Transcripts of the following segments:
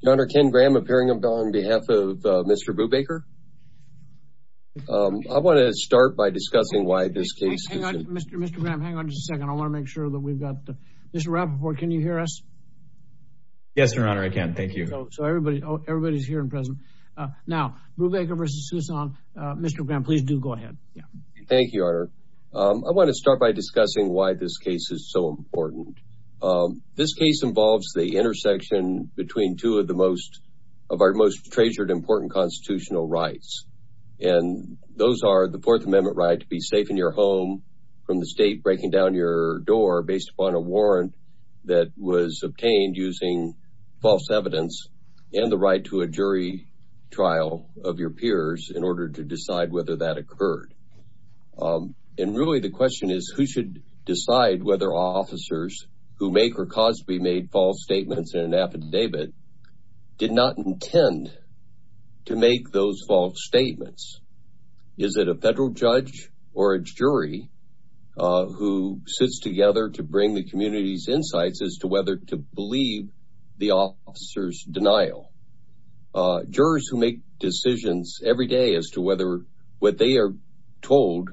Your Honor, Ken Graham appearing on behalf of Mr. Brubaker. I want to start by discussing why this case... Mr. Graham, hang on just a second. I want to make sure that we've got Mr. Rappaport, can you hear us? Yes, Your Honor, I can. Thank you. So everybody's here and present. Now, Brubaker v. Tucson. Mr. Graham, please do go ahead. Thank you, Your Honor. I want to start by discussing why this case is so important. This case involves the intersection between two of the most... of our most treasured important constitutional rights. And those are the Fourth Amendment right to be safe in your home from the state breaking down your door based upon a warrant that was obtained using false evidence and the right to a jury trial of your peers in order to decide whether that occurred. And really the question is who should decide whether officers who make or cause to be made false statements in an affidavit did not intend to make those false statements? Is it a federal judge or a jury who sits together to bring the community's insights as to whether to believe the officer's denial? Jurors who make decisions every day as to whether what they are told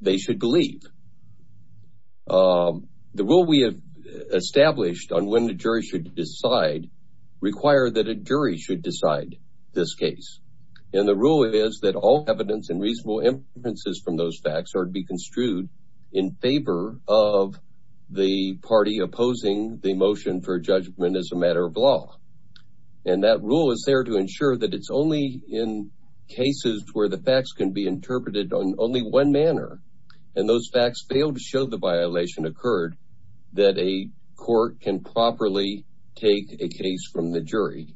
they should believe. The rule we have established on when the jury should decide require that a jury should decide this case. And the rule is that all evidence and reasonable inferences from those facts are to be construed in favor of the party opposing the motion for judgment as a matter of law. And that rule is there to ensure that it's only in cases where the facts can be and those facts fail to show the violation occurred, that a court can properly take a case from the jury.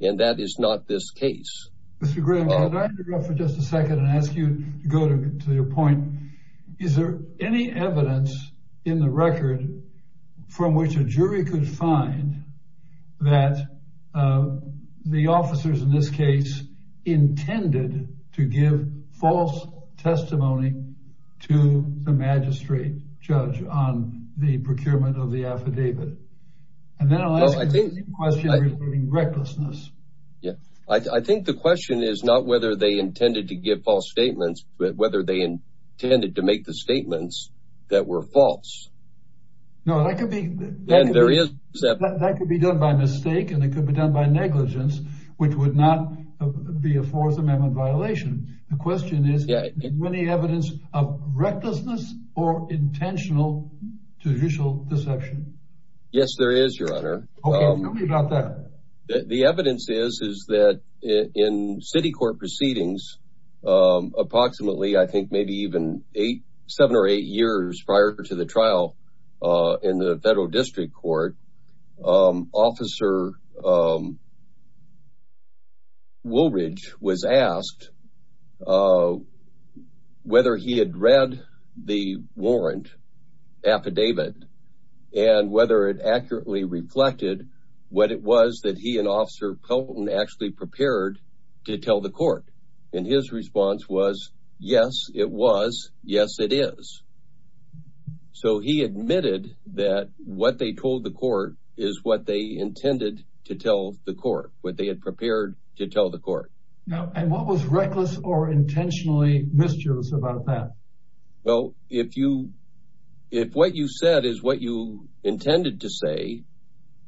And that is not this case. Mr. Graham, can I interrupt for just a second and ask you to go to your point? Is there any evidence in the record from which a jury could find that the the magistrate judge on the procurement of the affidavit? And then I'll ask a question regarding recklessness. Yeah, I think the question is not whether they intended to give false statements, but whether they intended to make the statements that were false. No, that could be done by mistake, and it could be done by negligence, which would not be a Fourth Amendment violation. The question is, is there any evidence of recklessness or intentional judicial deception? Yes, there is, Your Honor. OK, tell me about that. The evidence is, is that in city court proceedings, approximately, I think maybe even eight, seven or eight years prior to the trial in the federal whether he had read the warrant affidavit and whether it accurately reflected what it was that he and Officer Pelton actually prepared to tell the court. And his response was, yes, it was. Yes, it is. So he admitted that what they told the court is what they intended to tell the court, what they had prepared to tell the court. Now, and what was reckless or intentionally mischievous about that? Well, if you if what you said is what you intended to say,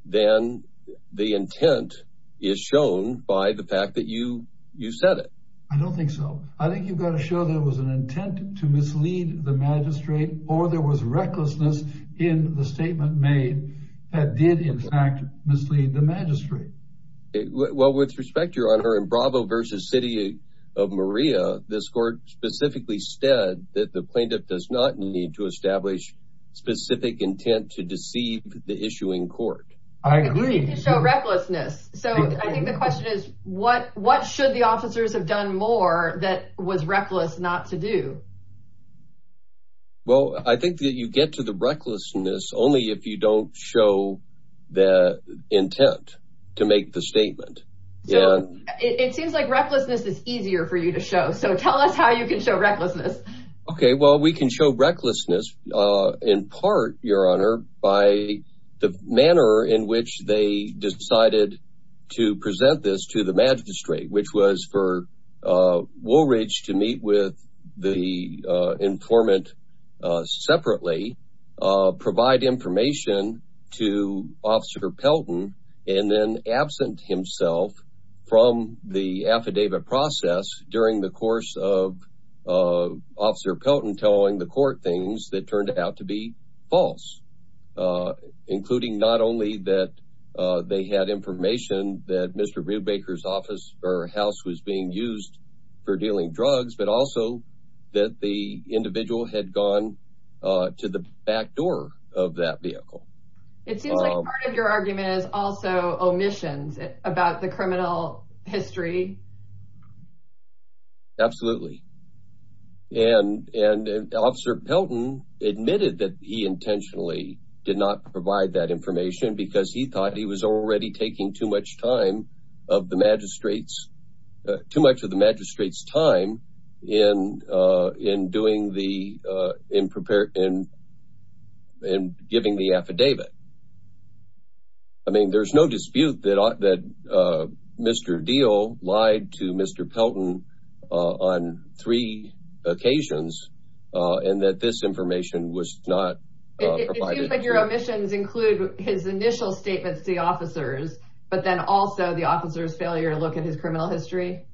then the intent is shown by the fact that you you said it. I don't think so. I think you've got to show there was an intent to mislead the magistrate or there was recklessness in the statement made that did, in fact, mislead the magistrate. Well, with respect, your honor, in Bravo versus City of Maria, this court specifically said that the plaintiff does not need to establish specific intent to deceive the issuing court. I agree. To show recklessness. So I think the question is, what what should the officers have done more that was reckless not to do? Well, I think that you get to the recklessness only if you don't show the statement. It seems like recklessness is easier for you to show. So tell us how you can show recklessness. OK, well, we can show recklessness in part, your honor, by the manner in which they decided to present this to the magistrate, which was for Woolridge to meet with the informant separately, provide information to Officer Pelton and then absent himself from the affidavit process during the course of Officer Pelton telling the court things that turned out to be false, including not only that they had information that Mr. Ruebaker's office or house was being used for dealing drugs, but also that the individual had gone to the back door of that vehicle. It seems like part of your argument is also omissions about the criminal history. Absolutely. And and Officer Pelton admitted that he intentionally did not provide that information because he thought he was already taking too much time of the magistrates, too much of the magistrates time in in doing the in preparing and giving the affidavit. I mean, there's no dispute that that Mr. Deal lied to Mr. Pelton on three occasions and that this information was not provided. But your omissions include his initial statements to the officers, but then also the officer's failure to look at his criminal history.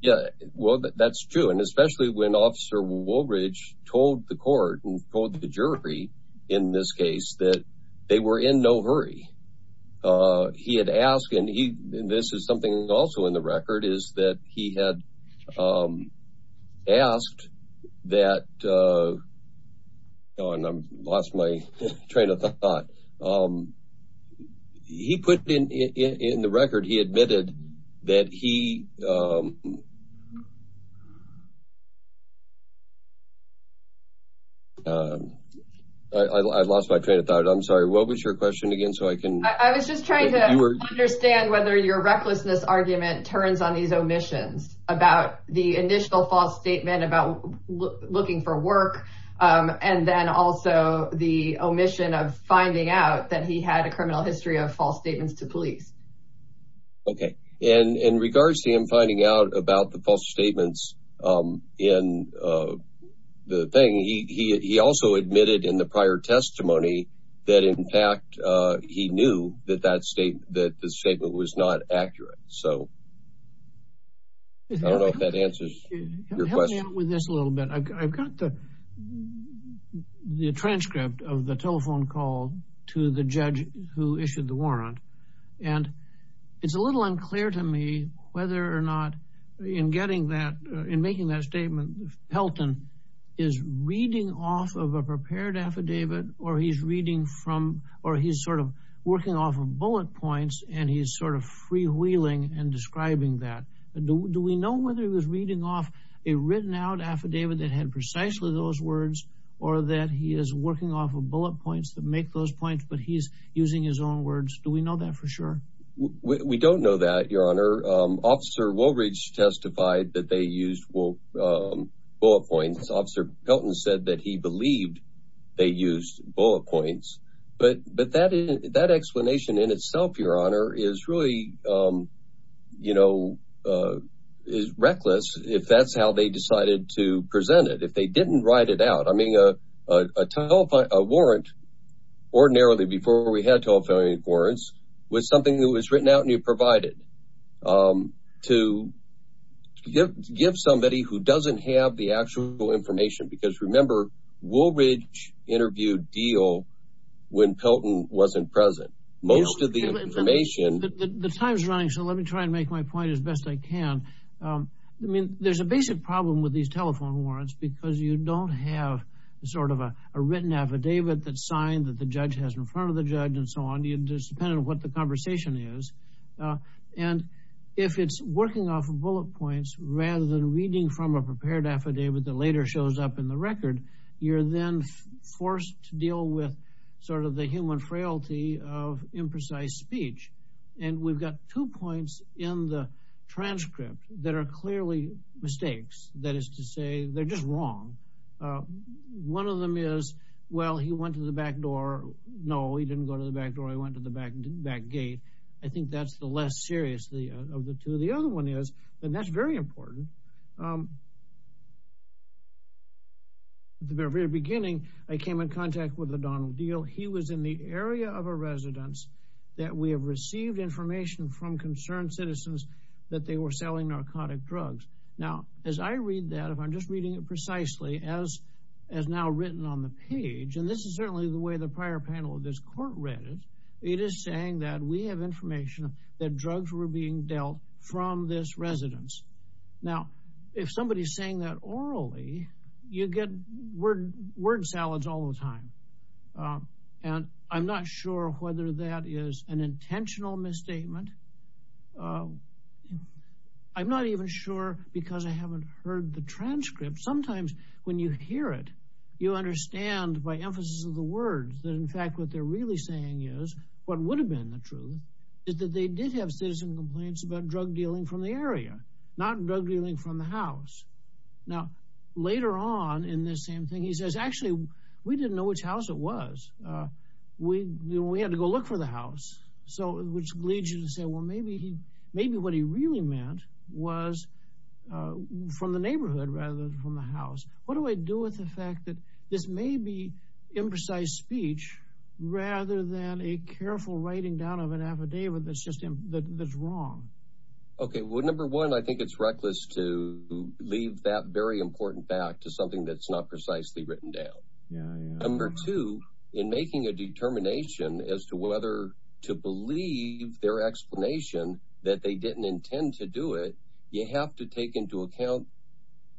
Yeah, well, that's true. And especially when Officer Woolbridge told the court and told the jury in this case that they were in no hurry. He had asked and he this is something also in the record is that he had asked that. Oh, and I lost my train of thought. I lost my train of thought. I'm sorry, what was your question again? So I can I was just trying to understand whether your recklessness argument turns on these omissions about the initial false statement about looking for work and then finding out that he had a criminal history of false statements to police. OK, and in regards to him finding out about the false statements in the thing, he also admitted in the prior testimony that, in fact, he knew that that state that the statement was not accurate. So. I don't know if that answers your question with this a little bit. I've got the the transcript of the telephone call to the judge who issued the warrant, and it's a little unclear to me whether or not in getting that in making that statement, Pelton is reading off of a prepared affidavit or he's reading from or he's sort of working off of bullet points and he's sort of freewheeling and describing that. Do we know whether he was reading off a written out affidavit? It had precisely those words or that he is working off of bullet points that make those points. But he's using his own words. Do we know that for sure? We don't know that, your honor. Officer Woolridge testified that they used bullet points. Officer Pelton said that he believed they used bullet points. But that that explanation in itself, your honor, is really, you know, is reckless if that's how they decided to present it, if they didn't write it out. I mean, a telephone, a warrant ordinarily before we had telephone warrants was something that was written out and you provided to give somebody who doesn't have the actual information. Because remember, Woolridge interviewed Deal when Pelton wasn't present. Most of the information. The time is running. So let me try and make my point as best I can. I mean, there's a basic problem with these telephone warrants because you don't have sort of a written affidavit that signed that the judge has in front of the judge and so on. It's dependent on what the conversation is. And if it's working off of bullet points rather than reading from a prepared affidavit that later shows up in the record, you're then forced to deal with sort of the human frailty of imprecise speech. And we've got two points in the transcript that are clearly mistakes, that is to say they're just wrong. One of them is, well, he went to the back door. No, he didn't go to the back door. He went to the back gate. I think that's the less serious of the two. The other one is, and that's very important. At the very beginning, I came in contact with O'Donnell Deal, he was in the area of a residence, and he had received information from concerned citizens that they were selling narcotic drugs. Now, as I read that, if I'm just reading it precisely as as now written on the page, and this is certainly the way the prior panel of this court read it, it is saying that we have information that drugs were being dealt from this residence. Now, if somebody is saying that orally, you get word salads all the time. And I'm not sure whether that is an intentional misstatement. I'm not even sure because I haven't heard the transcript. Sometimes when you hear it, you understand by emphasis of the words that, in fact, what they're really saying is what would have been the truth is that they did have citizen complaints about drug dealing from the area, not drug dealing from the house. Now, later on in this same thing, he says, actually, we didn't know which house it was. We we had to go look for the house. So which leads you to say, well, maybe he maybe what he really meant was from the neighborhood rather than from the house. What do I do with the fact that this may be imprecise speech rather than a careful writing down of an affidavit that's just that's wrong? OK, well, number one, I think it's reckless to leave that very important back to something that's not precisely written down. Number two, in making a determination as to whether to believe their explanation that they didn't intend to do it, you have to take into account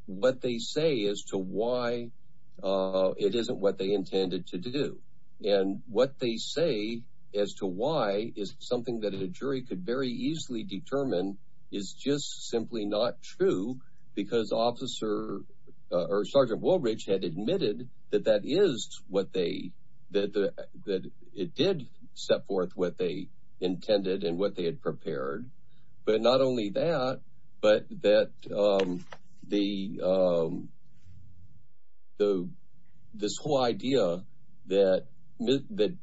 what they say as to why it isn't what they intended to do and what they say as to why is something that a jury could very easily determine is just simply not true because officer or Sergeant Woolridge had admitted that that is what they that it did set forth what they intended and what they had prepared. But not only that, but that the. So this whole idea that that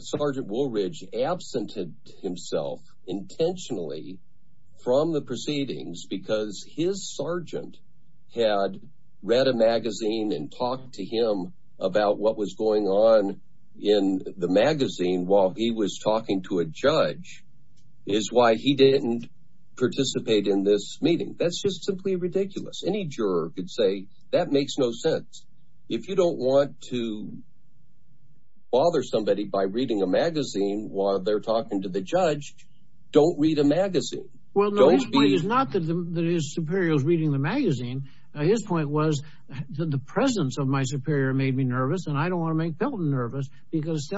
Sergeant Woolridge absented himself intentionally from the proceedings because his sergeant had read a magazine and talked to him about what was going on in the magazine while he was talking to a judge is why he didn't participate in this meeting. That's just simply ridiculous. Any juror could say that makes no sense. If you don't want to bother somebody by reading a magazine while they're talking to the judge, don't read a magazine. Well, no, it's not that his superiors reading the magazine. His point was that the presence of my superior made me nervous and I don't want to make Pelton nervous because he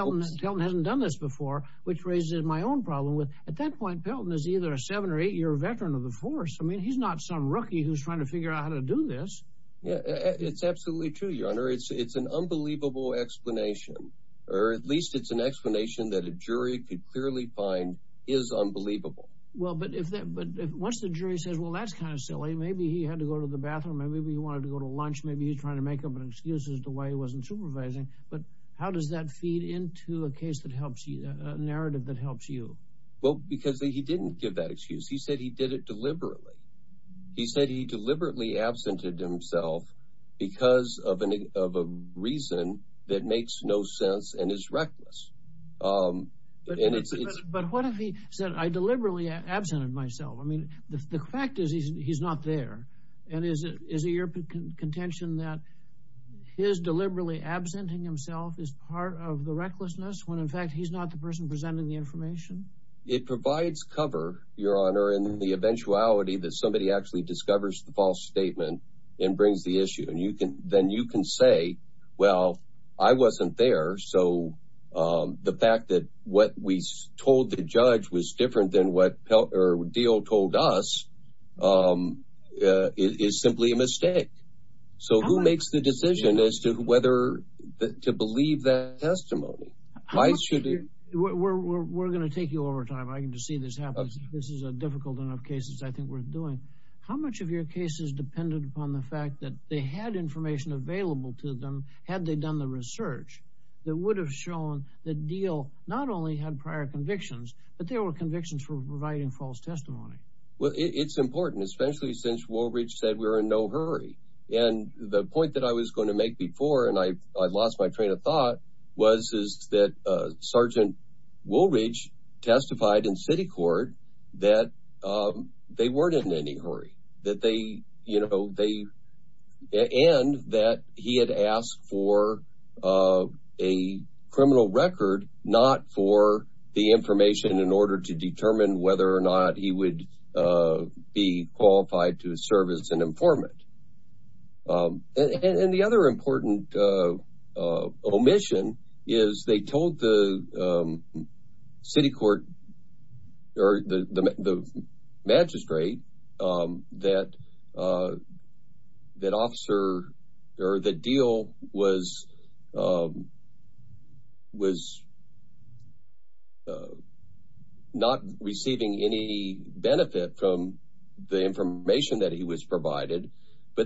hasn't done this before, which raises my own problem with at that point, Pelton is either a seven or eight year veteran of the force. I mean, he's not some rookie who's trying to figure out how to do this. Yeah, it's absolutely true, your honor. It's it's an unbelievable explanation, or at least it's an explanation that a jury could clearly find is unbelievable. Well, but if that but once the jury says, well, that's kind of silly. Maybe he had to go to the bathroom. Maybe we wanted to go to lunch. Maybe he's trying to make up an excuse as to why he wasn't supervising. But how does that feed into a case that helps you a narrative that helps you? Well, because he didn't give that excuse. He said he did it deliberately. He said he deliberately absented himself because of a reason that makes no sense and is reckless. But what if he said, I deliberately absented myself? I mean, the fact is, he's not there. And is it your contention that his deliberately absenting himself is part of the recklessness when, in fact, he's not the person presenting the information? It provides cover, your honor, in the eventuality that somebody actually discovers the false statement and brings the issue. And you can then you can say, well, I wasn't there. So the fact that what we told the judge was different than what Peltier deal told us is simply a mistake. So who makes the decision as to whether to believe that testimony? I should be. We're going to take you over time. I can just see this happens. This is a difficult enough cases I think we're doing. How much of your case is dependent upon the fact that they had information available to them had they done the research that would have shown the deal not only had prior convictions, but there were convictions for providing false testimony. Well, it's important, especially since Woolridge said we're in no hurry. And the point that I was going to make before, and I lost my train of thought, was that Sergeant Woolridge testified in city court that they weren't in any hurry, and that he had asked for a criminal record, not for the information in order to determine whether or not he would be qualified to serve as an informant. And the other important omission is they told the city court or the magistrate that officer or the deal was not receiving any benefit from the information that he was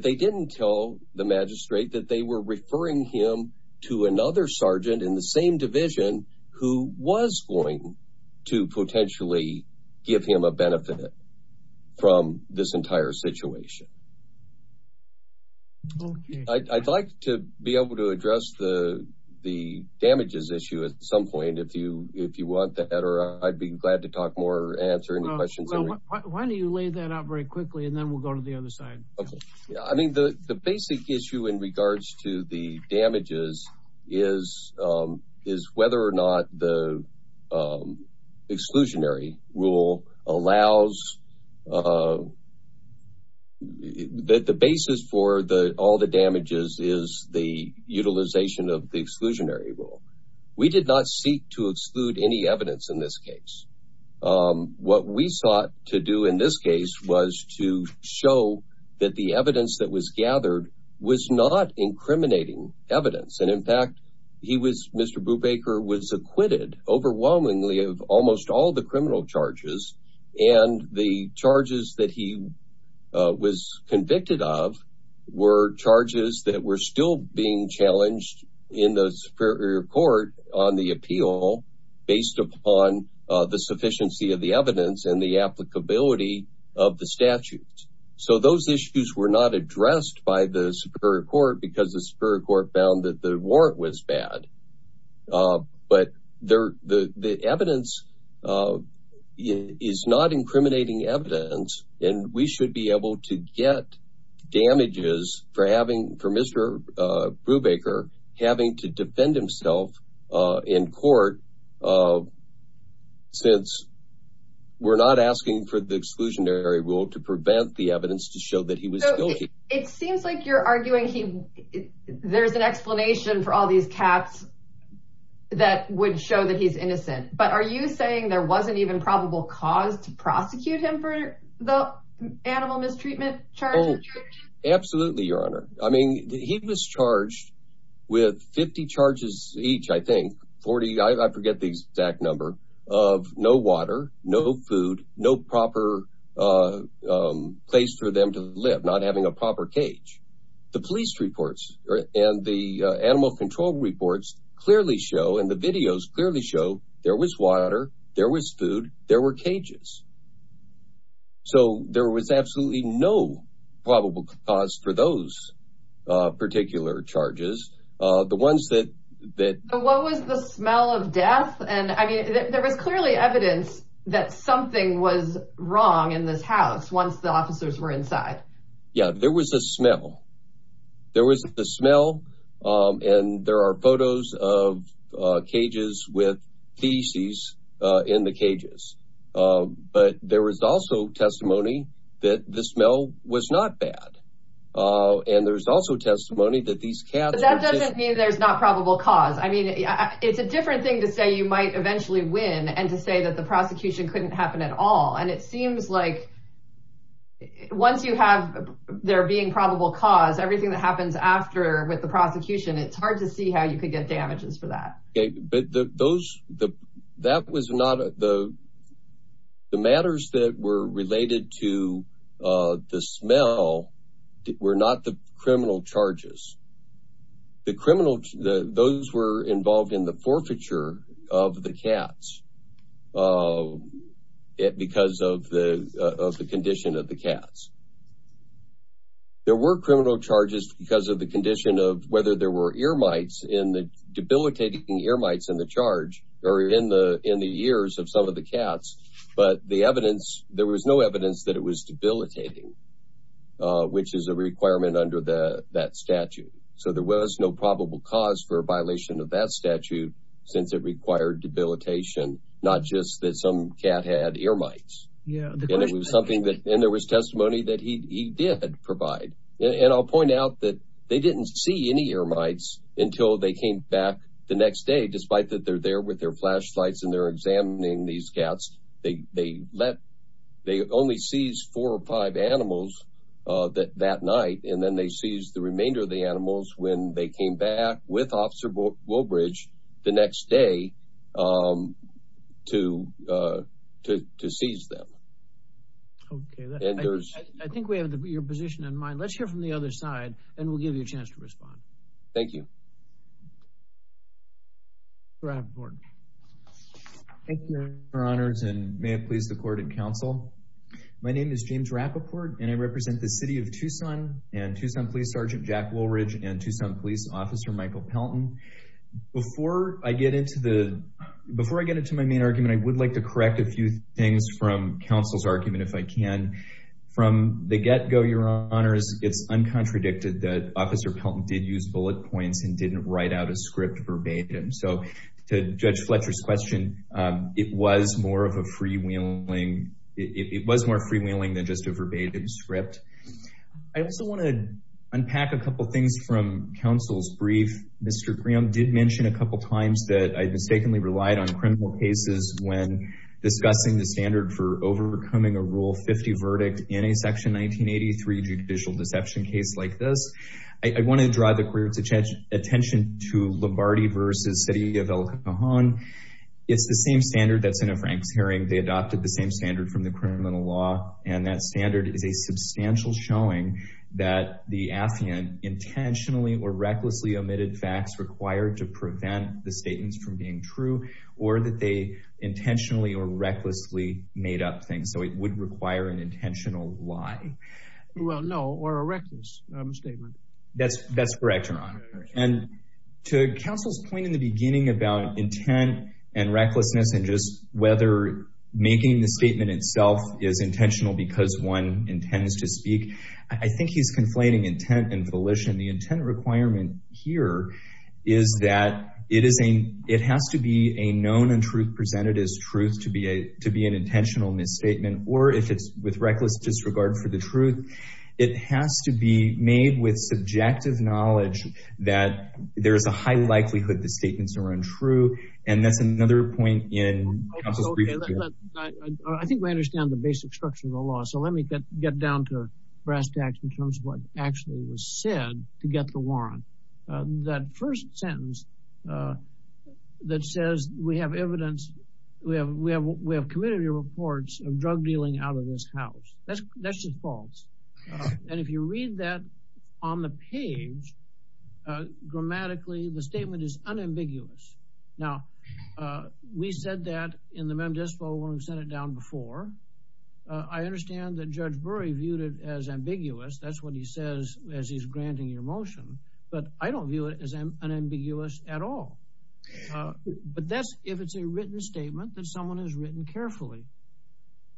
getting. Tell the magistrate that they were referring him to another sergeant in the same division who was going to potentially give him a benefit from this entire situation. I'd like to be able to address the damages issue at some point if you want that, or I'd be glad to talk more, answer any questions. Why don't you lay that out very quickly and then we'll go to the other side. I mean, the basic issue in regards to the damages is whether or not the exclusionary rule allows that the basis for the all the damages is the utilization of the exclusionary rule. We did not seek to exclude any evidence in this case. What we sought to do in this case was to show that the evidence that was gathered was not incriminating evidence. And in fact, he was Mr. Brubaker was acquitted overwhelmingly of almost all the criminal charges. And the charges that he was convicted of were charges that were still being challenged in the Superior Court on the appeal based upon the sufficiency of the evidence and the applicability of the statutes. So those issues were not addressed by the Superior Court because the Superior Court found that the warrant was bad. But the evidence is not incriminating evidence and we should be able to get damages for Mr. Brubaker having to defend himself in court since we're not asking for the exclusionary rule to prevent the evidence to show that he was guilty. It seems like you're arguing there's an explanation for all these cats that would show that he's innocent. But are you saying there wasn't even probable cause to prosecute him for the animal mistreatment charges? Absolutely, Your Honor. I mean, he was charged with 50 charges each, I think, 40, I forget the exact number, of no water, no food, no proper place for them to live, not having a proper cage. The police reports and the animal control reports clearly show and the videos clearly show there was water, there was food, there were cages. So there was absolutely no probable cause for those particular charges. What was the smell of death? And I mean, there was clearly evidence that something was wrong in this house once the officers were inside. Yeah, there was a smell. There was the smell. And there are photos of cages with feces in the cages. But there was also testimony that the smell was not bad. And there's also testimony that these cats. That doesn't mean there's not probable cause. I mean, it's a different thing to say you might eventually win and to say that the prosecution couldn't happen at all. And it seems like once you have there being probable cause, everything that happens after with the prosecution, it's hard to see how you could get damages for that. But that was not the matters that were related to the smell were not the criminal charges. The criminal, those were involved in the forfeiture of the cats because of the condition of the cats. There were criminal charges because of the condition of whether there were ear mites in the debilitating ear mites in the charge or in the in the ears of some of the cats. But the evidence, there was no evidence that it was debilitating, which is a requirement under that statute. So there was no probable cause for a violation of that statute since it required debilitation, not just that some cat had ear mites. Yeah. And it was something that there was testimony that he did provide. And I'll point out that they didn't see any ear mites until they came back the next day, despite that they're there with their flashlights and they're examining these cats. They they let they only sees four or five animals that that night. And then they sees the remainder of the animals when they came back with Officer Woolbridge the next day to to to seize them. OK, I think we have your position in mind. Let's hear from the other side and we'll give you a chance to respond. James Rappaport. Thank you, Your Honors, and may it please the court and counsel. My name is James Rappaport and I represent the city of Tucson and Tucson Police Sergeant Jack Woolridge and Tucson Police Officer Michael Pelton. Before I get into the before I get into my main argument, I would like to correct a few things from counsel's argument, if I can. From the get go, Your Honors, it's uncontradicted that Officer Pelton did use bullet points and didn't write out a script verbatim. So to Judge Fletcher's question, it was more of a freewheeling, it was more freewheeling than just a verbatim script. I also want to unpack a couple of things from counsel's brief. Mr. Graham did mention a couple of times that I mistakenly relied on criminal cases when discussing the standard for overcoming a rule 50 verdict in a section 1983 judicial deception case like this. I want to draw the court's attention to Lombardi versus city of El Cajon. It's the same standard that's in a Frank's hearing. They adopted the same standard from the criminal law and that standard is a substantial showing that the affiant intentionally or recklessly omitted facts required to prevent the statements from being true or that they intentionally or recklessly made up things. So it would require an intentional lie. Well, no, or a reckless statement. That's correct, Your Honor. And to counsel's point in the beginning about intent and recklessness and just whether making the statement itself is intentional because one intends to speak. I think he's conflating intent and volition. The intent requirement here is that it is a it has to be a known and truth presented as truth to be a to be an intentional misstatement or if it's with reckless disregard for the truth, it has to be made with subjective knowledge that there is a high likelihood the statements are untrue. And that's another point in counsel's brief. I think I understand the basic structure of the law. So let me get down to brass tacks in terms of what actually was said to get the warrant. That first sentence that says we have evidence, we have we have we have committed reports of drug dealing out of this house. That's that's just false. And if you read that on the page grammatically, the statement is unambiguous. Now, we said that in the Mem Dispo when we sent it down before. I understand that Judge Burry viewed it as ambiguous. That's what he says as he's granting your motion. But I don't view it as an ambiguous at all. But that's if it's a written statement that someone has written carefully.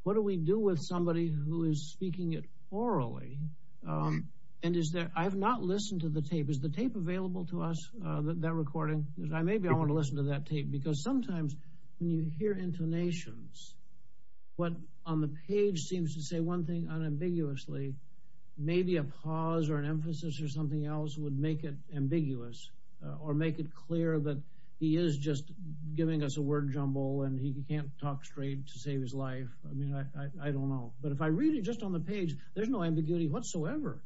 What do we do with somebody who is speaking it orally and is that I have not listened to the tape. Is the tape available to us that recording? Maybe I want to listen to that tape, because sometimes you hear intonations. What on the page seems to say one thing unambiguously, maybe a pause or an emphasis or something else would make it ambiguous or make it clear that he is just giving us a word jumble and he can't talk straight to save his life. I mean, I don't know. But if I read it just on the page, there's no ambiguity whatsoever.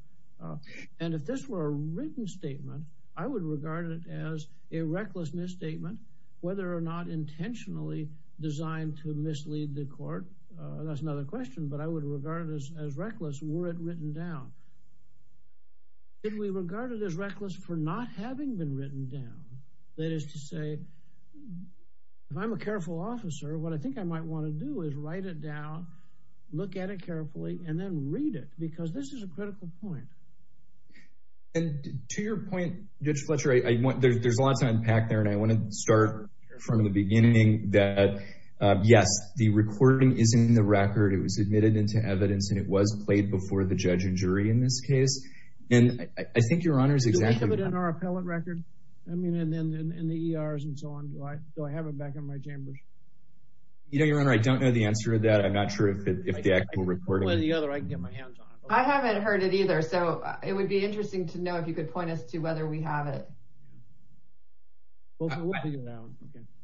And if this were a written statement, I would regard it as a reckless misstatement, whether or not intentionally designed to mislead the court. That's another question. But I would regard this as reckless. Were it written down? Did we regard it as reckless for not having been written down? That is to say, if I'm a careful officer, what I think I might want to do is write it down, look at it carefully and then read it, because this is a critical point. And to your point, Judge Fletcher, I want there's a lot to unpack there. And I want to start from the beginning that, yes, the recording is in the record. It was admitted into evidence and it was played before the judge and jury in this case. And I think Your Honor is exactly right. Do we have it in our appellate record? I mean, and then in the ERs and so on. Do I have it back in my chambers? You know, Your Honor, I don't know the answer to that. I'm not sure if the actual recording. I can play the other. I can get my hands on it. I haven't heard it either. So it would be interesting to know if you could point us to whether we have it.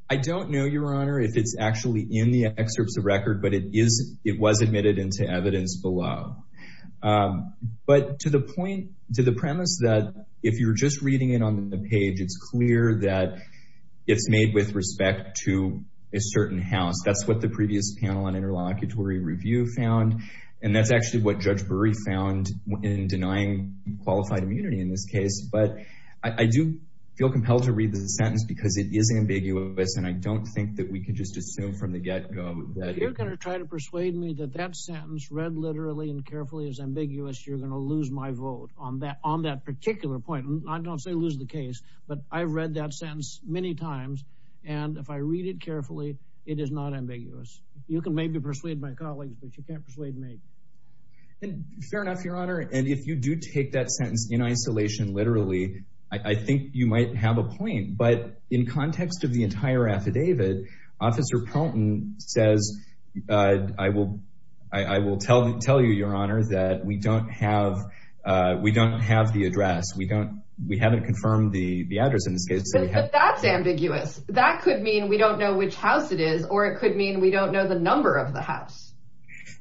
I don't know, Your Honor, if it's actually in the excerpts of record, but it is it was admitted into evidence below. But to the point, to the premise that if you're just reading it on the page, it's clear that it's made with respect to a certain house. That's what the previous panel on interlocutory review found. And that's actually what Judge Brey found in denying qualified immunity in this case. But I do feel compelled to read the sentence because it is ambiguous. And I don't think that we can just assume from the get go that you're going to try to persuade me that that sentence read literally and carefully is ambiguous. You're going to lose my vote on that on that particular point. I don't say lose the case, but I've read that sentence many times. And if I read it carefully, it is not ambiguous. You can maybe persuade my colleagues, but you can't persuade me. And fair enough, Your Honor. And if you do take that sentence in isolation, literally, I think you might have a point. But in context of the entire affidavit, Officer Proton says, I will I will tell them, tell you, Your Honor, that we don't have we don't have the address. We don't we haven't confirmed the address in this case. That's ambiguous. That could mean we don't know which house it is or it could mean we don't know the number of the house.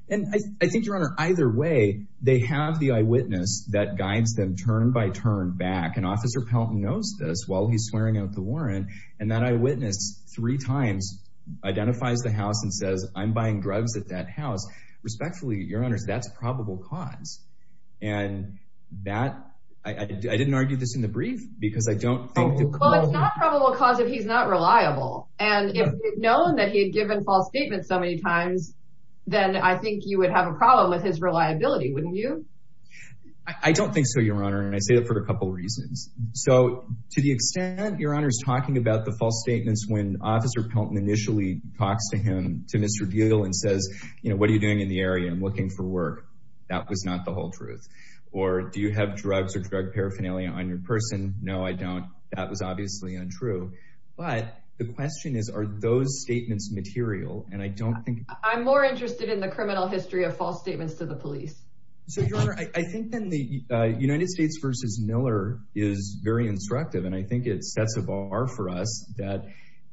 And I think, Your Honor, either way, they have the eyewitness that guides them turn by turn back. And Officer Pelton knows this while he's swearing out the warrant. And that eyewitness three times identifies the house and says, I'm buying drugs at that house. Respectfully, Your Honor, that's probable cause. And that I didn't argue this in the brief because I don't think the probable cause if he's not reliable. And if we'd known that he had given false statements so many times, then I think you would have a problem with his reliability, wouldn't you? I don't think so, Your Honor. And I say that for a couple of reasons. So to the extent Your Honor's talking about the false statements when Officer Pelton initially talks to him, to Mr. Deal and says, you know, what are you doing in the area? I'm looking for work. That was not the whole truth. Or do you have drugs or drug paraphernalia on your person? No, I don't. That was obviously untrue. But the question is, are those statements material? And I don't think I'm more interested in the criminal history of false statements to the police. So, Your Honor, I think then the United States versus Miller is very instructive. And I think it sets a bar for us that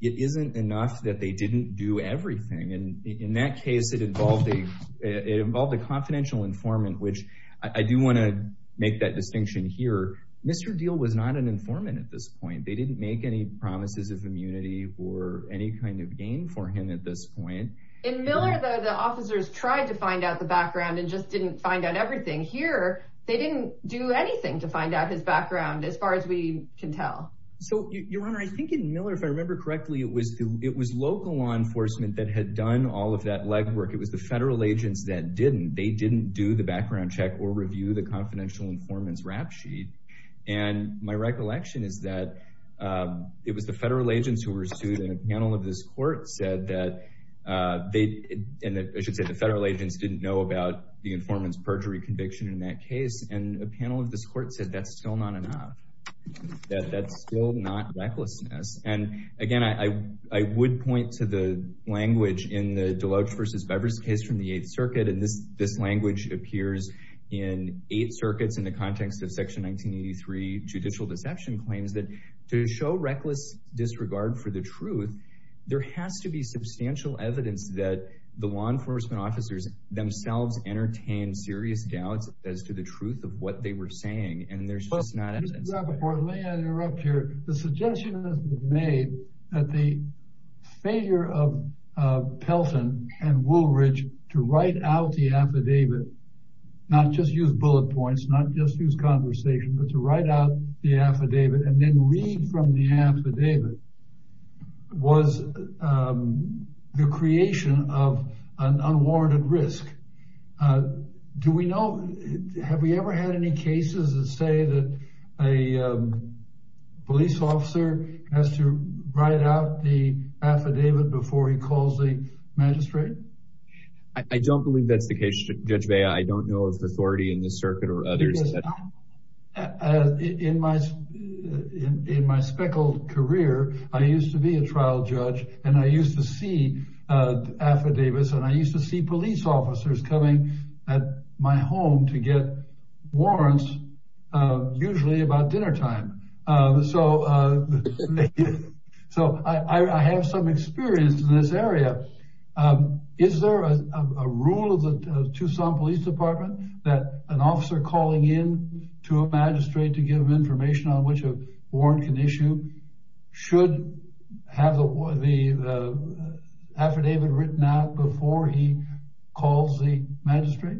it isn't enough that they didn't do everything. And in that case, it involved a it involved a confidential informant, which I do want to make that distinction here. Mr. Deal was not an informant at this point. They didn't make any promises of immunity or any kind of gain for him at this point. In Miller, though, the officers tried to find out the background and just didn't find out everything here. They didn't do anything to find out his background as far as we can tell. So, Your Honor, I think in Miller, if I remember correctly, it was it was local law enforcement that had done all of that legwork. It was the federal agents that didn't. They didn't do the background check or review the confidential informant's rap sheet. And my recollection is that it was the federal agents who were sued. And a panel of this court said that they and I should say the federal agents didn't know about the informant's perjury conviction in that case. And a panel of this court said that's still not enough, that that's still not recklessness. And again, I would point to the language in the Deloach versus Bevers case from the Eighth Circuit. And this this language appears in Eighth Circuit's in the context of Section 1983 judicial deception claims that to show reckless disregard for the truth, there has to be substantial evidence that the law enforcement officers themselves entertained serious doubts as to the truth of what they were saying. And there's just not enough evidence. Let me interrupt here. The suggestion has been made that the failure of Pelton and Woolridge to write out the affidavit, not just use bullet points, not just use conversation, but to write out the affidavit and then read from the affidavit was the creation of an unwarranted risk. Do we know, have we ever had any cases that say that a police officer has to write out the affidavit before he calls the magistrate? I don't believe that's the case, Judge Bea, I don't know of authority in the circuit or others. In my speckled career, I used to be a trial judge and I used to see affidavits and I used to see police officers coming at my home to get warrants, usually about dinnertime. So I have some experience in this area. Is there a rule of the Tucson Police Department that an officer calling in to a magistrate to give information on which a warrant can issue should have the affidavit written out before he calls the magistrate?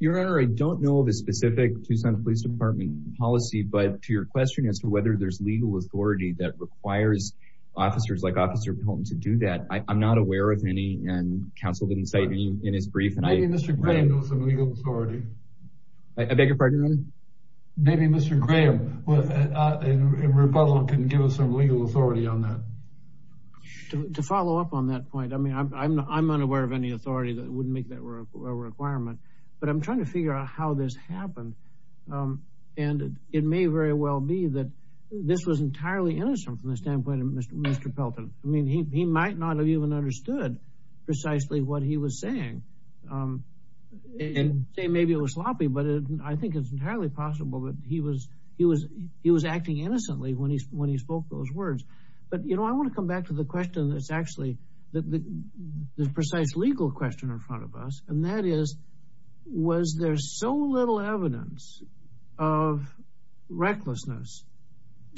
Your Honor, I don't know of a specific Tucson Police Department policy, but to your question as to whether there's legal authority that requires officers like Officer Pelham to do that, I'm not aware of any and counsel didn't cite any in his brief. Maybe Mr. Graham knows some legal authority. I beg your pardon, Your Honor? Maybe Mr. Graham in rebuttal can give us some legal authority on that. To follow up on that point, I mean, I'm unaware of any authority that wouldn't make that a requirement, but I'm trying to figure out how this happened. And it may very well be that this was entirely innocent from the standpoint of Mr. Pelham. I mean, he might not have even understood precisely what he was saying. And say maybe it was sloppy, but I think it's entirely possible that he was acting innocently when he spoke those words. But, you know, I want to come back to the question that's actually the precise legal question in front of us. And that is, was there so little evidence of recklessness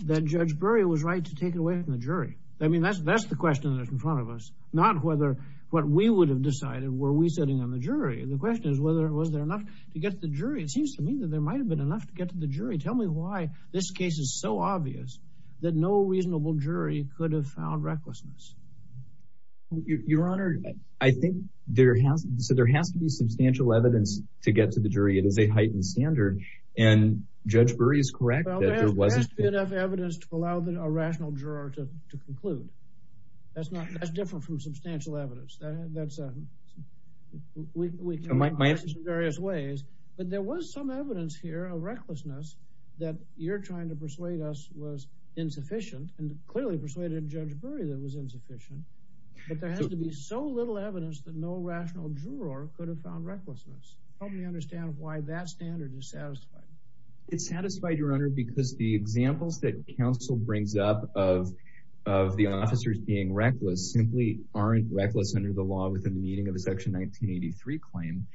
that Judge Bury was right to take it away from the jury? I mean, that's the question that's in front of us, not whether what we would have decided were we sitting on the jury. The question is whether it was there enough to get the jury. It seems to me that there might have been enough to get to the jury. Tell me why this case is so obvious that no reasonable jury could have found recklessness. Your Honor, I think there has to be substantial evidence to get to the jury. It is a heightened standard and Judge Bury is correct that there wasn't enough evidence to allow a rational juror to conclude. That's not that's different from substantial evidence. That's a we can look at this in various ways, but there was some evidence here of recklessness that you're trying to persuade us was insufficient and clearly persuaded Judge Bury that was insufficient. But there has to be so little evidence that no rational juror could have found recklessness. Help me understand why that standard is satisfied. It's satisfied, Your Honor, because the examples that counsel brings up of of the officers being reckless simply aren't reckless under the law within the meaning of a section 1983 claim.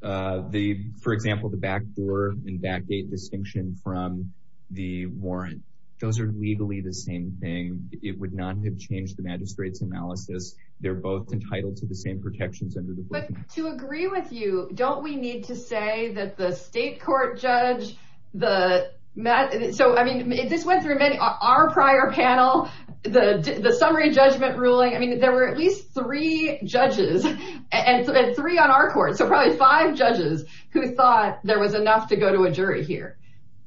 The, for example, the backdoor and backgate distinction from the warrant, those are legally the same thing. It would not have changed the magistrate's analysis. They're both entitled to the same protections under the to agree with you. Don't we need to say that the state court judge, the so I mean, this went through many our prior panel, the summary judgment ruling. I mean, there were at least three judges and three on our court. So probably five judges who thought there was enough to go to a jury here.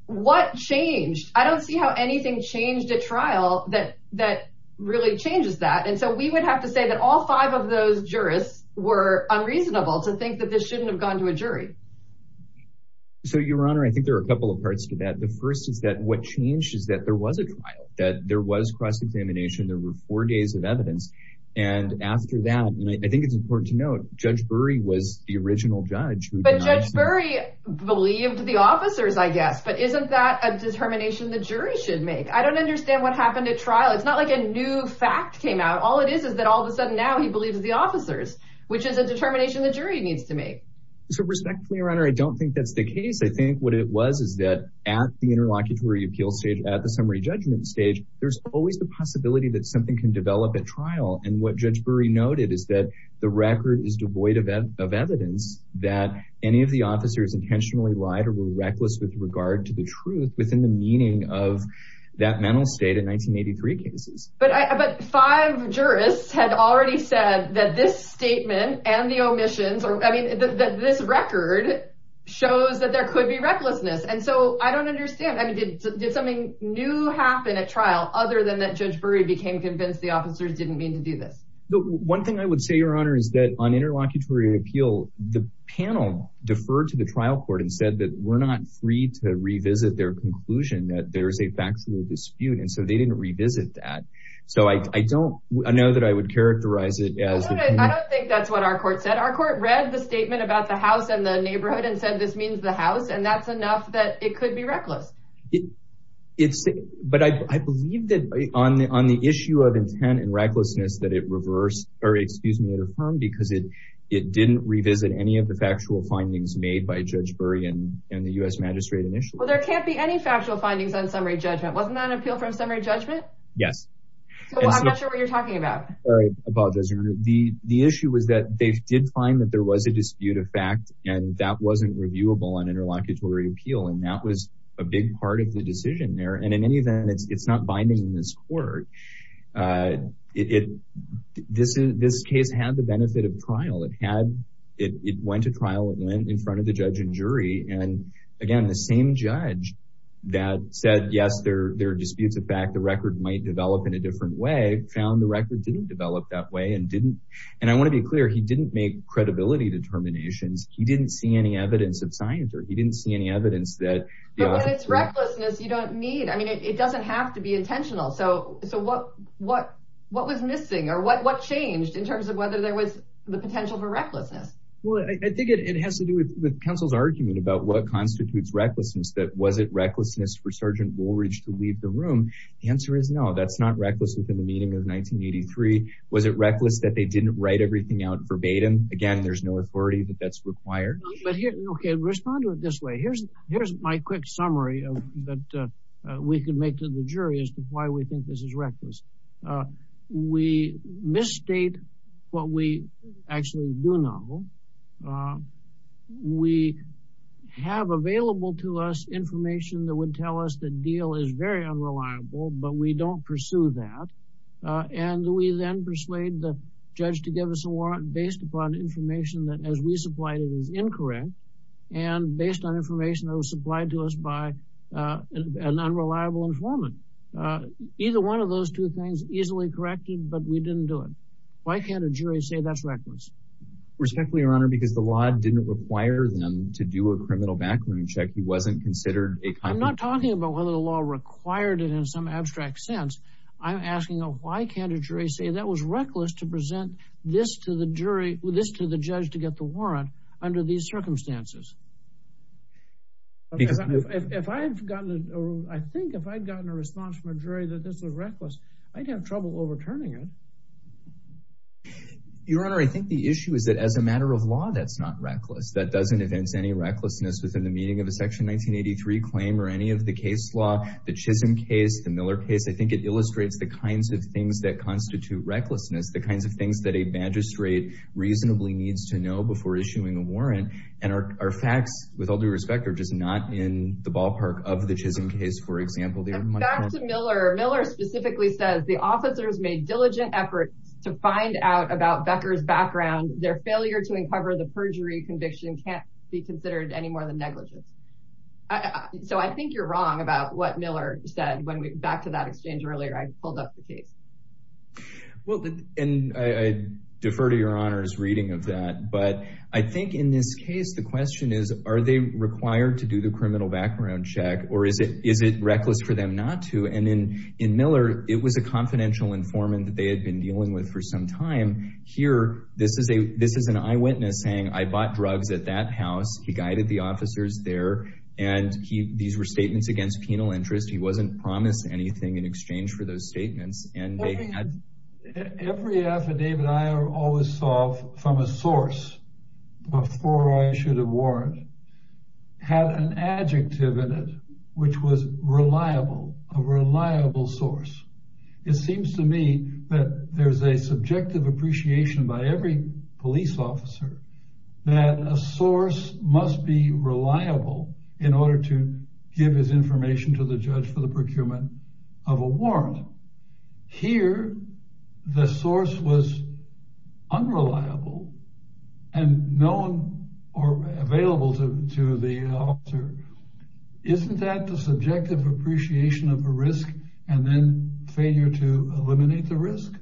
What changed? I don't see how anything changed a trial that that really changes that. And so we would have to say that all five of those jurists were unreasonable to think that this shouldn't have gone to a jury. So, Your Honor, I think there are a couple of parts to that. The first is that what changed is that there was a trial, that there was cross examination. There were four days of evidence. And after that, I think it's important to note Judge Bury was the original judge. But Judge Bury believed the officers, I guess. But isn't that a determination the jury should make? I don't understand what happened at trial. It's not like a new fact came out. All it is is that all of a sudden now he believes the officers, which is a determination the jury needs to make. So respectfully, Your Honor, I don't think that's the case. I think what it was is that at the interlocutory appeal stage, at the summary judgment stage, there's always the possibility that something can develop at that any of the officers intentionally lied or were reckless with regard to the truth within the meaning of that mental state in 1983 cases. But five jurists had already said that this statement and the omissions or I mean, that this record shows that there could be recklessness. And so I don't understand. I mean, did something new happen at trial other than that Judge Bury became convinced the officers didn't mean to do this? One thing I would say, Your Honor, is that on interlocutory appeal, the panel deferred to the trial court and said that we're not free to revisit their conclusion, that there's a factual dispute. And so they didn't revisit that. So I don't know that I would characterize it as. I don't think that's what our court said. Our court read the statement about the house and the neighborhood and said this means the house and that's enough that it could be reckless. It's but I believe that on the on the issue of intent and recklessness that it reversed or excuse me, it affirmed because it it didn't revisit any of the factual findings made by Judge Bury and the U.S. magistrate initially. Well, there can't be any factual findings on summary judgment. Wasn't that an appeal from summary judgment? Yes. So I'm not sure what you're talking about. All right. I apologize. The the issue was that they did find that there was a dispute of fact and that wasn't reviewable on interlocutory appeal. And that was a big part of the decision there. And in any event, it's not binding in this court. It this is this case had the benefit of trial. It had it went to trial and went in front of the judge and jury. And again, the same judge that said, yes, there are disputes of fact, the record might develop in a different way, found the record didn't develop that way and didn't. And I want to be clear, he didn't make credibility determinations. He didn't see any evidence of science or he didn't see any evidence. But when it's recklessness, you don't need I mean, it doesn't have to be intentional. So so what what what was missing or what what changed in terms of whether there was the potential for recklessness? Well, I think it has to do with counsel's argument about what constitutes recklessness, that was it recklessness for Sergeant Woolridge to leave the room? The answer is no, that's not reckless. Within the meeting of 1983, was it reckless that they didn't write everything out verbatim? Again, there's no authority that that's required. But OK, respond to it this way. Here's here's my quick summary that we can make to the jury as to why we think this is reckless. We misstate what we actually do know. We have available to us information that would tell us the deal is very unreliable, but we don't pursue that. And we then persuade the judge to give us a warrant based upon information that as we supplied it is incorrect and based on information that was supplied to us by an unreliable informant. Either one of those two things easily corrected, but we didn't do it. Why can't a jury say that's reckless? Respectfully, Your Honor, because the law didn't require them to do a criminal backroom check. He wasn't considered. I'm not talking about whether the law required it in some abstract sense. I'm asking why can't a jury say that was reckless to present this to the jury, this to the judge to get the warrant under these circumstances? Because if I had gotten or I think if I'd gotten a response from a jury that this was reckless, I'd have trouble overturning it. Your Honor, I think the issue is that as a matter of law, that's not reckless. That doesn't advance any recklessness within the meaning of a Section 1983 claim or any of the case law, the Chisholm case, the Miller case. I think it illustrates the kinds of things that constitute recklessness, the kinds of things that a magistrate reasonably needs to know before issuing a warrant. And our facts, with all due respect, are just not in the ballpark of the Chisholm case, for example. Back to Miller. Miller specifically says the officers made diligent efforts to find out about Becker's background. Their failure to uncover the perjury conviction can't be considered any more than negligence. So I think you're wrong about what Miller said back to that exchange earlier. I pulled up the case. Well, and I defer to Your Honor's reading of that, but I think in this case, the question is, are they required to do the criminal background check or is it reckless for them not to? And in Miller, it was a confidential informant that they had been dealing with for some time. Here, this is an eyewitness saying, I bought drugs at that house. He guided the officers there. And these were statements against penal interest. He wasn't promised anything in exchange for those statements. And every affidavit I always solve from a source before I issued a warrant had an adjective in it which was reliable, a reliable source. It seems to me that there's a subjective appreciation by every police officer that a source must be reliable in order to give his information to the judge for the case. Here, the source was unreliable and known or available to the officer. Isn't that the subjective appreciation of a risk and then failure to eliminate the risk?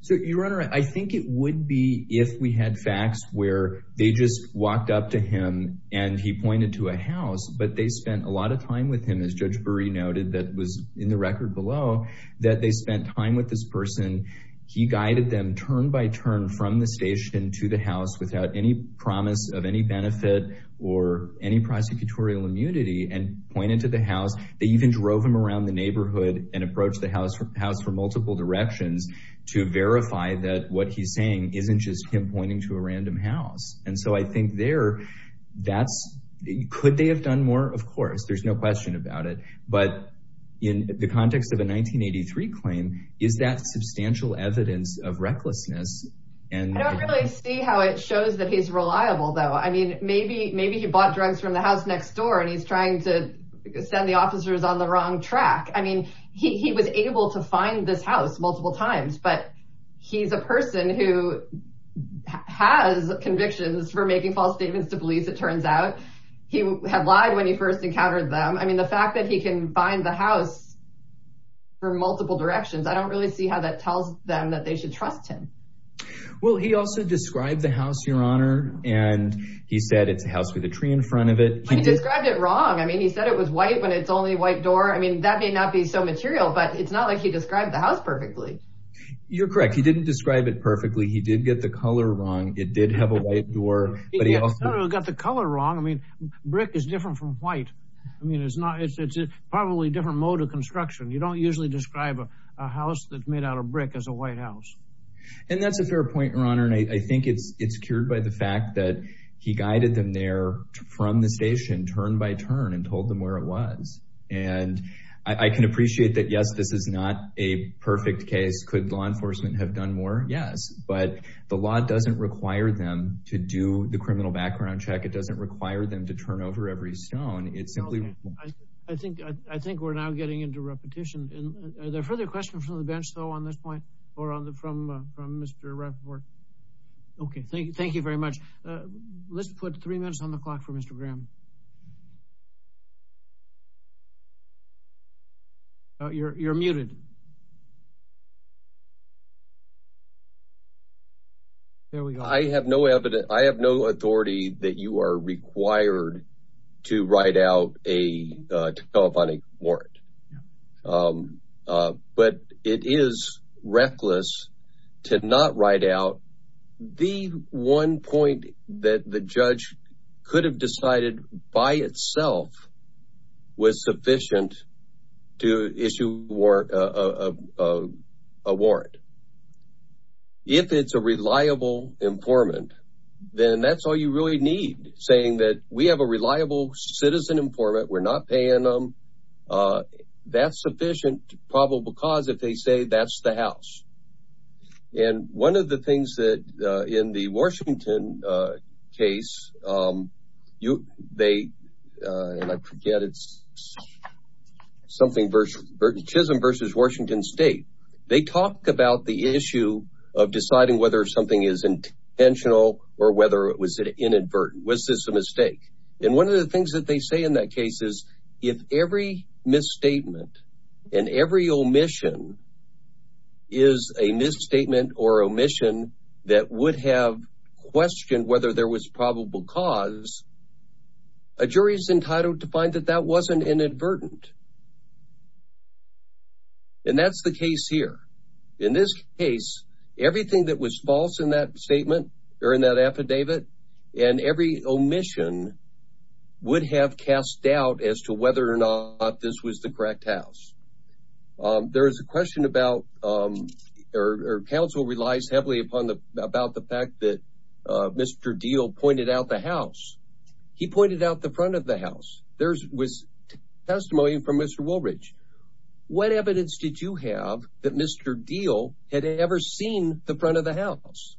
So, Your Honor, I think it would be if we had facts where they just walked up to him and he pointed to a house, but they spent a lot of time with him, as Judge Spence said, they spent time with this person, he guided them turn by turn from the station to the house without any promise of any benefit or any prosecutorial immunity and pointed to the house. They even drove him around the neighborhood and approached the house for multiple directions to verify that what he's saying isn't just him pointing to a random house. And so I think there, that's, could they have done more? Of course, there's no question about it. But in the context of a 1983 claim, is that substantial evidence of recklessness? And I don't really see how it shows that he's reliable, though. I mean, maybe maybe he bought drugs from the house next door and he's trying to send the officers on the wrong track. I mean, he was able to find this house multiple times, but he's a person who has convictions for making false statements to police. It turns out he had lied when he first encountered them. I mean, the fact that he can find the house for multiple directions, I don't really see how that tells them that they should trust him. Well, he also described the house, your honor, and he said it's a house with a tree in front of it. He described it wrong. I mean, he said it was white when it's only a white door. I mean, that may not be so material, but it's not like he described the house perfectly. You're correct. He didn't describe it perfectly. He did get the color wrong. It did have a white door, but he also got the color wrong. I mean, brick is different from white. I mean, it's probably a different mode of construction. You don't usually describe a house that's made out of brick as a white house. And that's a fair point, your honor. And I think it's cured by the fact that he guided them there from the station, turn by turn, and told them where it was. And I can appreciate that. Yes, this is not a perfect case. Could law enforcement have done more? Yes. But the law doesn't require them to do the criminal background check. It doesn't require them to turn over every stone. It's simply I think I think we're now getting into repetition. And are there further questions from the bench, though, on this point or on the from from Mr. Rappaport? OK, thank you. Thank you very much. Let's put three minutes on the clock for Mr. Graham. You're you're muted. There we go. I have no evidence. I have no authority that you are required to write out a telephonic warrant. But it is reckless to not write out the one point that the judge could have decided by itself was sufficient to issue a warrant. If it's a reliable informant, then that's all you really need, saying that we have a reliable citizen informant. We're not paying them. That's sufficient probable cause if they say that's the house. And one of the things that in the Washington case, you they forget it's something Chisholm versus Washington State. They talked about the issue of deciding whether something is intentional or whether it was inadvertent. Was this a mistake? And one of the things that they say in that case is if every misstatement and every omission is a misstatement or omission that would have questioned whether there was probable cause. A jury is entitled to find that that wasn't inadvertent. And that's the case here. In this case, everything that was false in that statement or in that affidavit and every omission would have cast doubt as to whether or not this was the correct house. There is a question about or counsel relies heavily upon the about the fact that Mr. Deal pointed out the house. He pointed out the front of the house. There was testimony from Mr. Woolridge. What evidence did you have that Mr. Deal had ever seen the front of the house?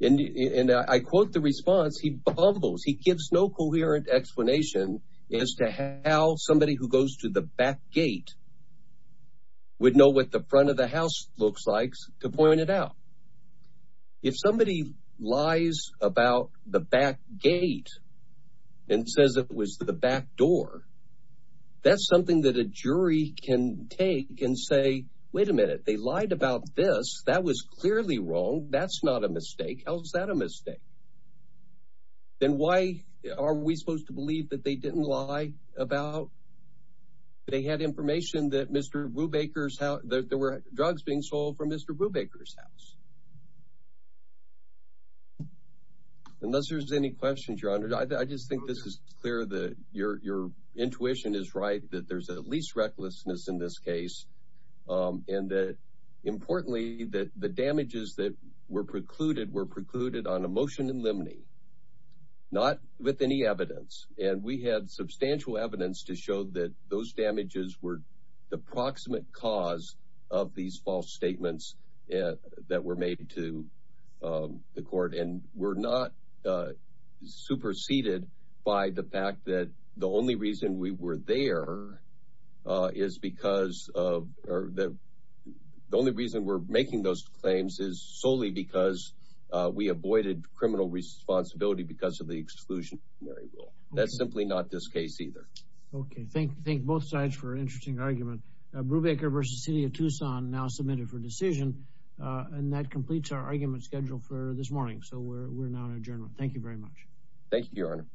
And I quote the response, he bumbles, he gives no coherent explanation as to how somebody who goes to the back gate would know what the front of the house looks like to point it out. If somebody lies about the back gate and says it was the back door, that's a jury can take and say, wait a minute, they lied about this. That was clearly wrong. That's not a mistake. How is that a mistake? Then why are we supposed to believe that they didn't lie about? They had information that Mr. Brubaker's there were drugs being sold from Mr. Brubaker's house. Unless there's any questions, your honor, I just think this is clear that your intuition is right, that there's at least recklessness in this case and that importantly, that the damages that were precluded were precluded on a motion in limine, not with any evidence. And we had substantial evidence to show that those damages were the proximate cause of these false statements that were made to the court and were not superseded by the fact that the only reason we were there is because of the only reason we're making those claims is solely because we avoided criminal responsibility because of the exclusion. That's simply not this case either. OK, thank you. Thank both sides for an interesting argument. Brubaker versus city of Tucson now submitted for decision. And that completes our argument schedule for this morning. So we're not a general. Thank you very much. Thank you, your honor.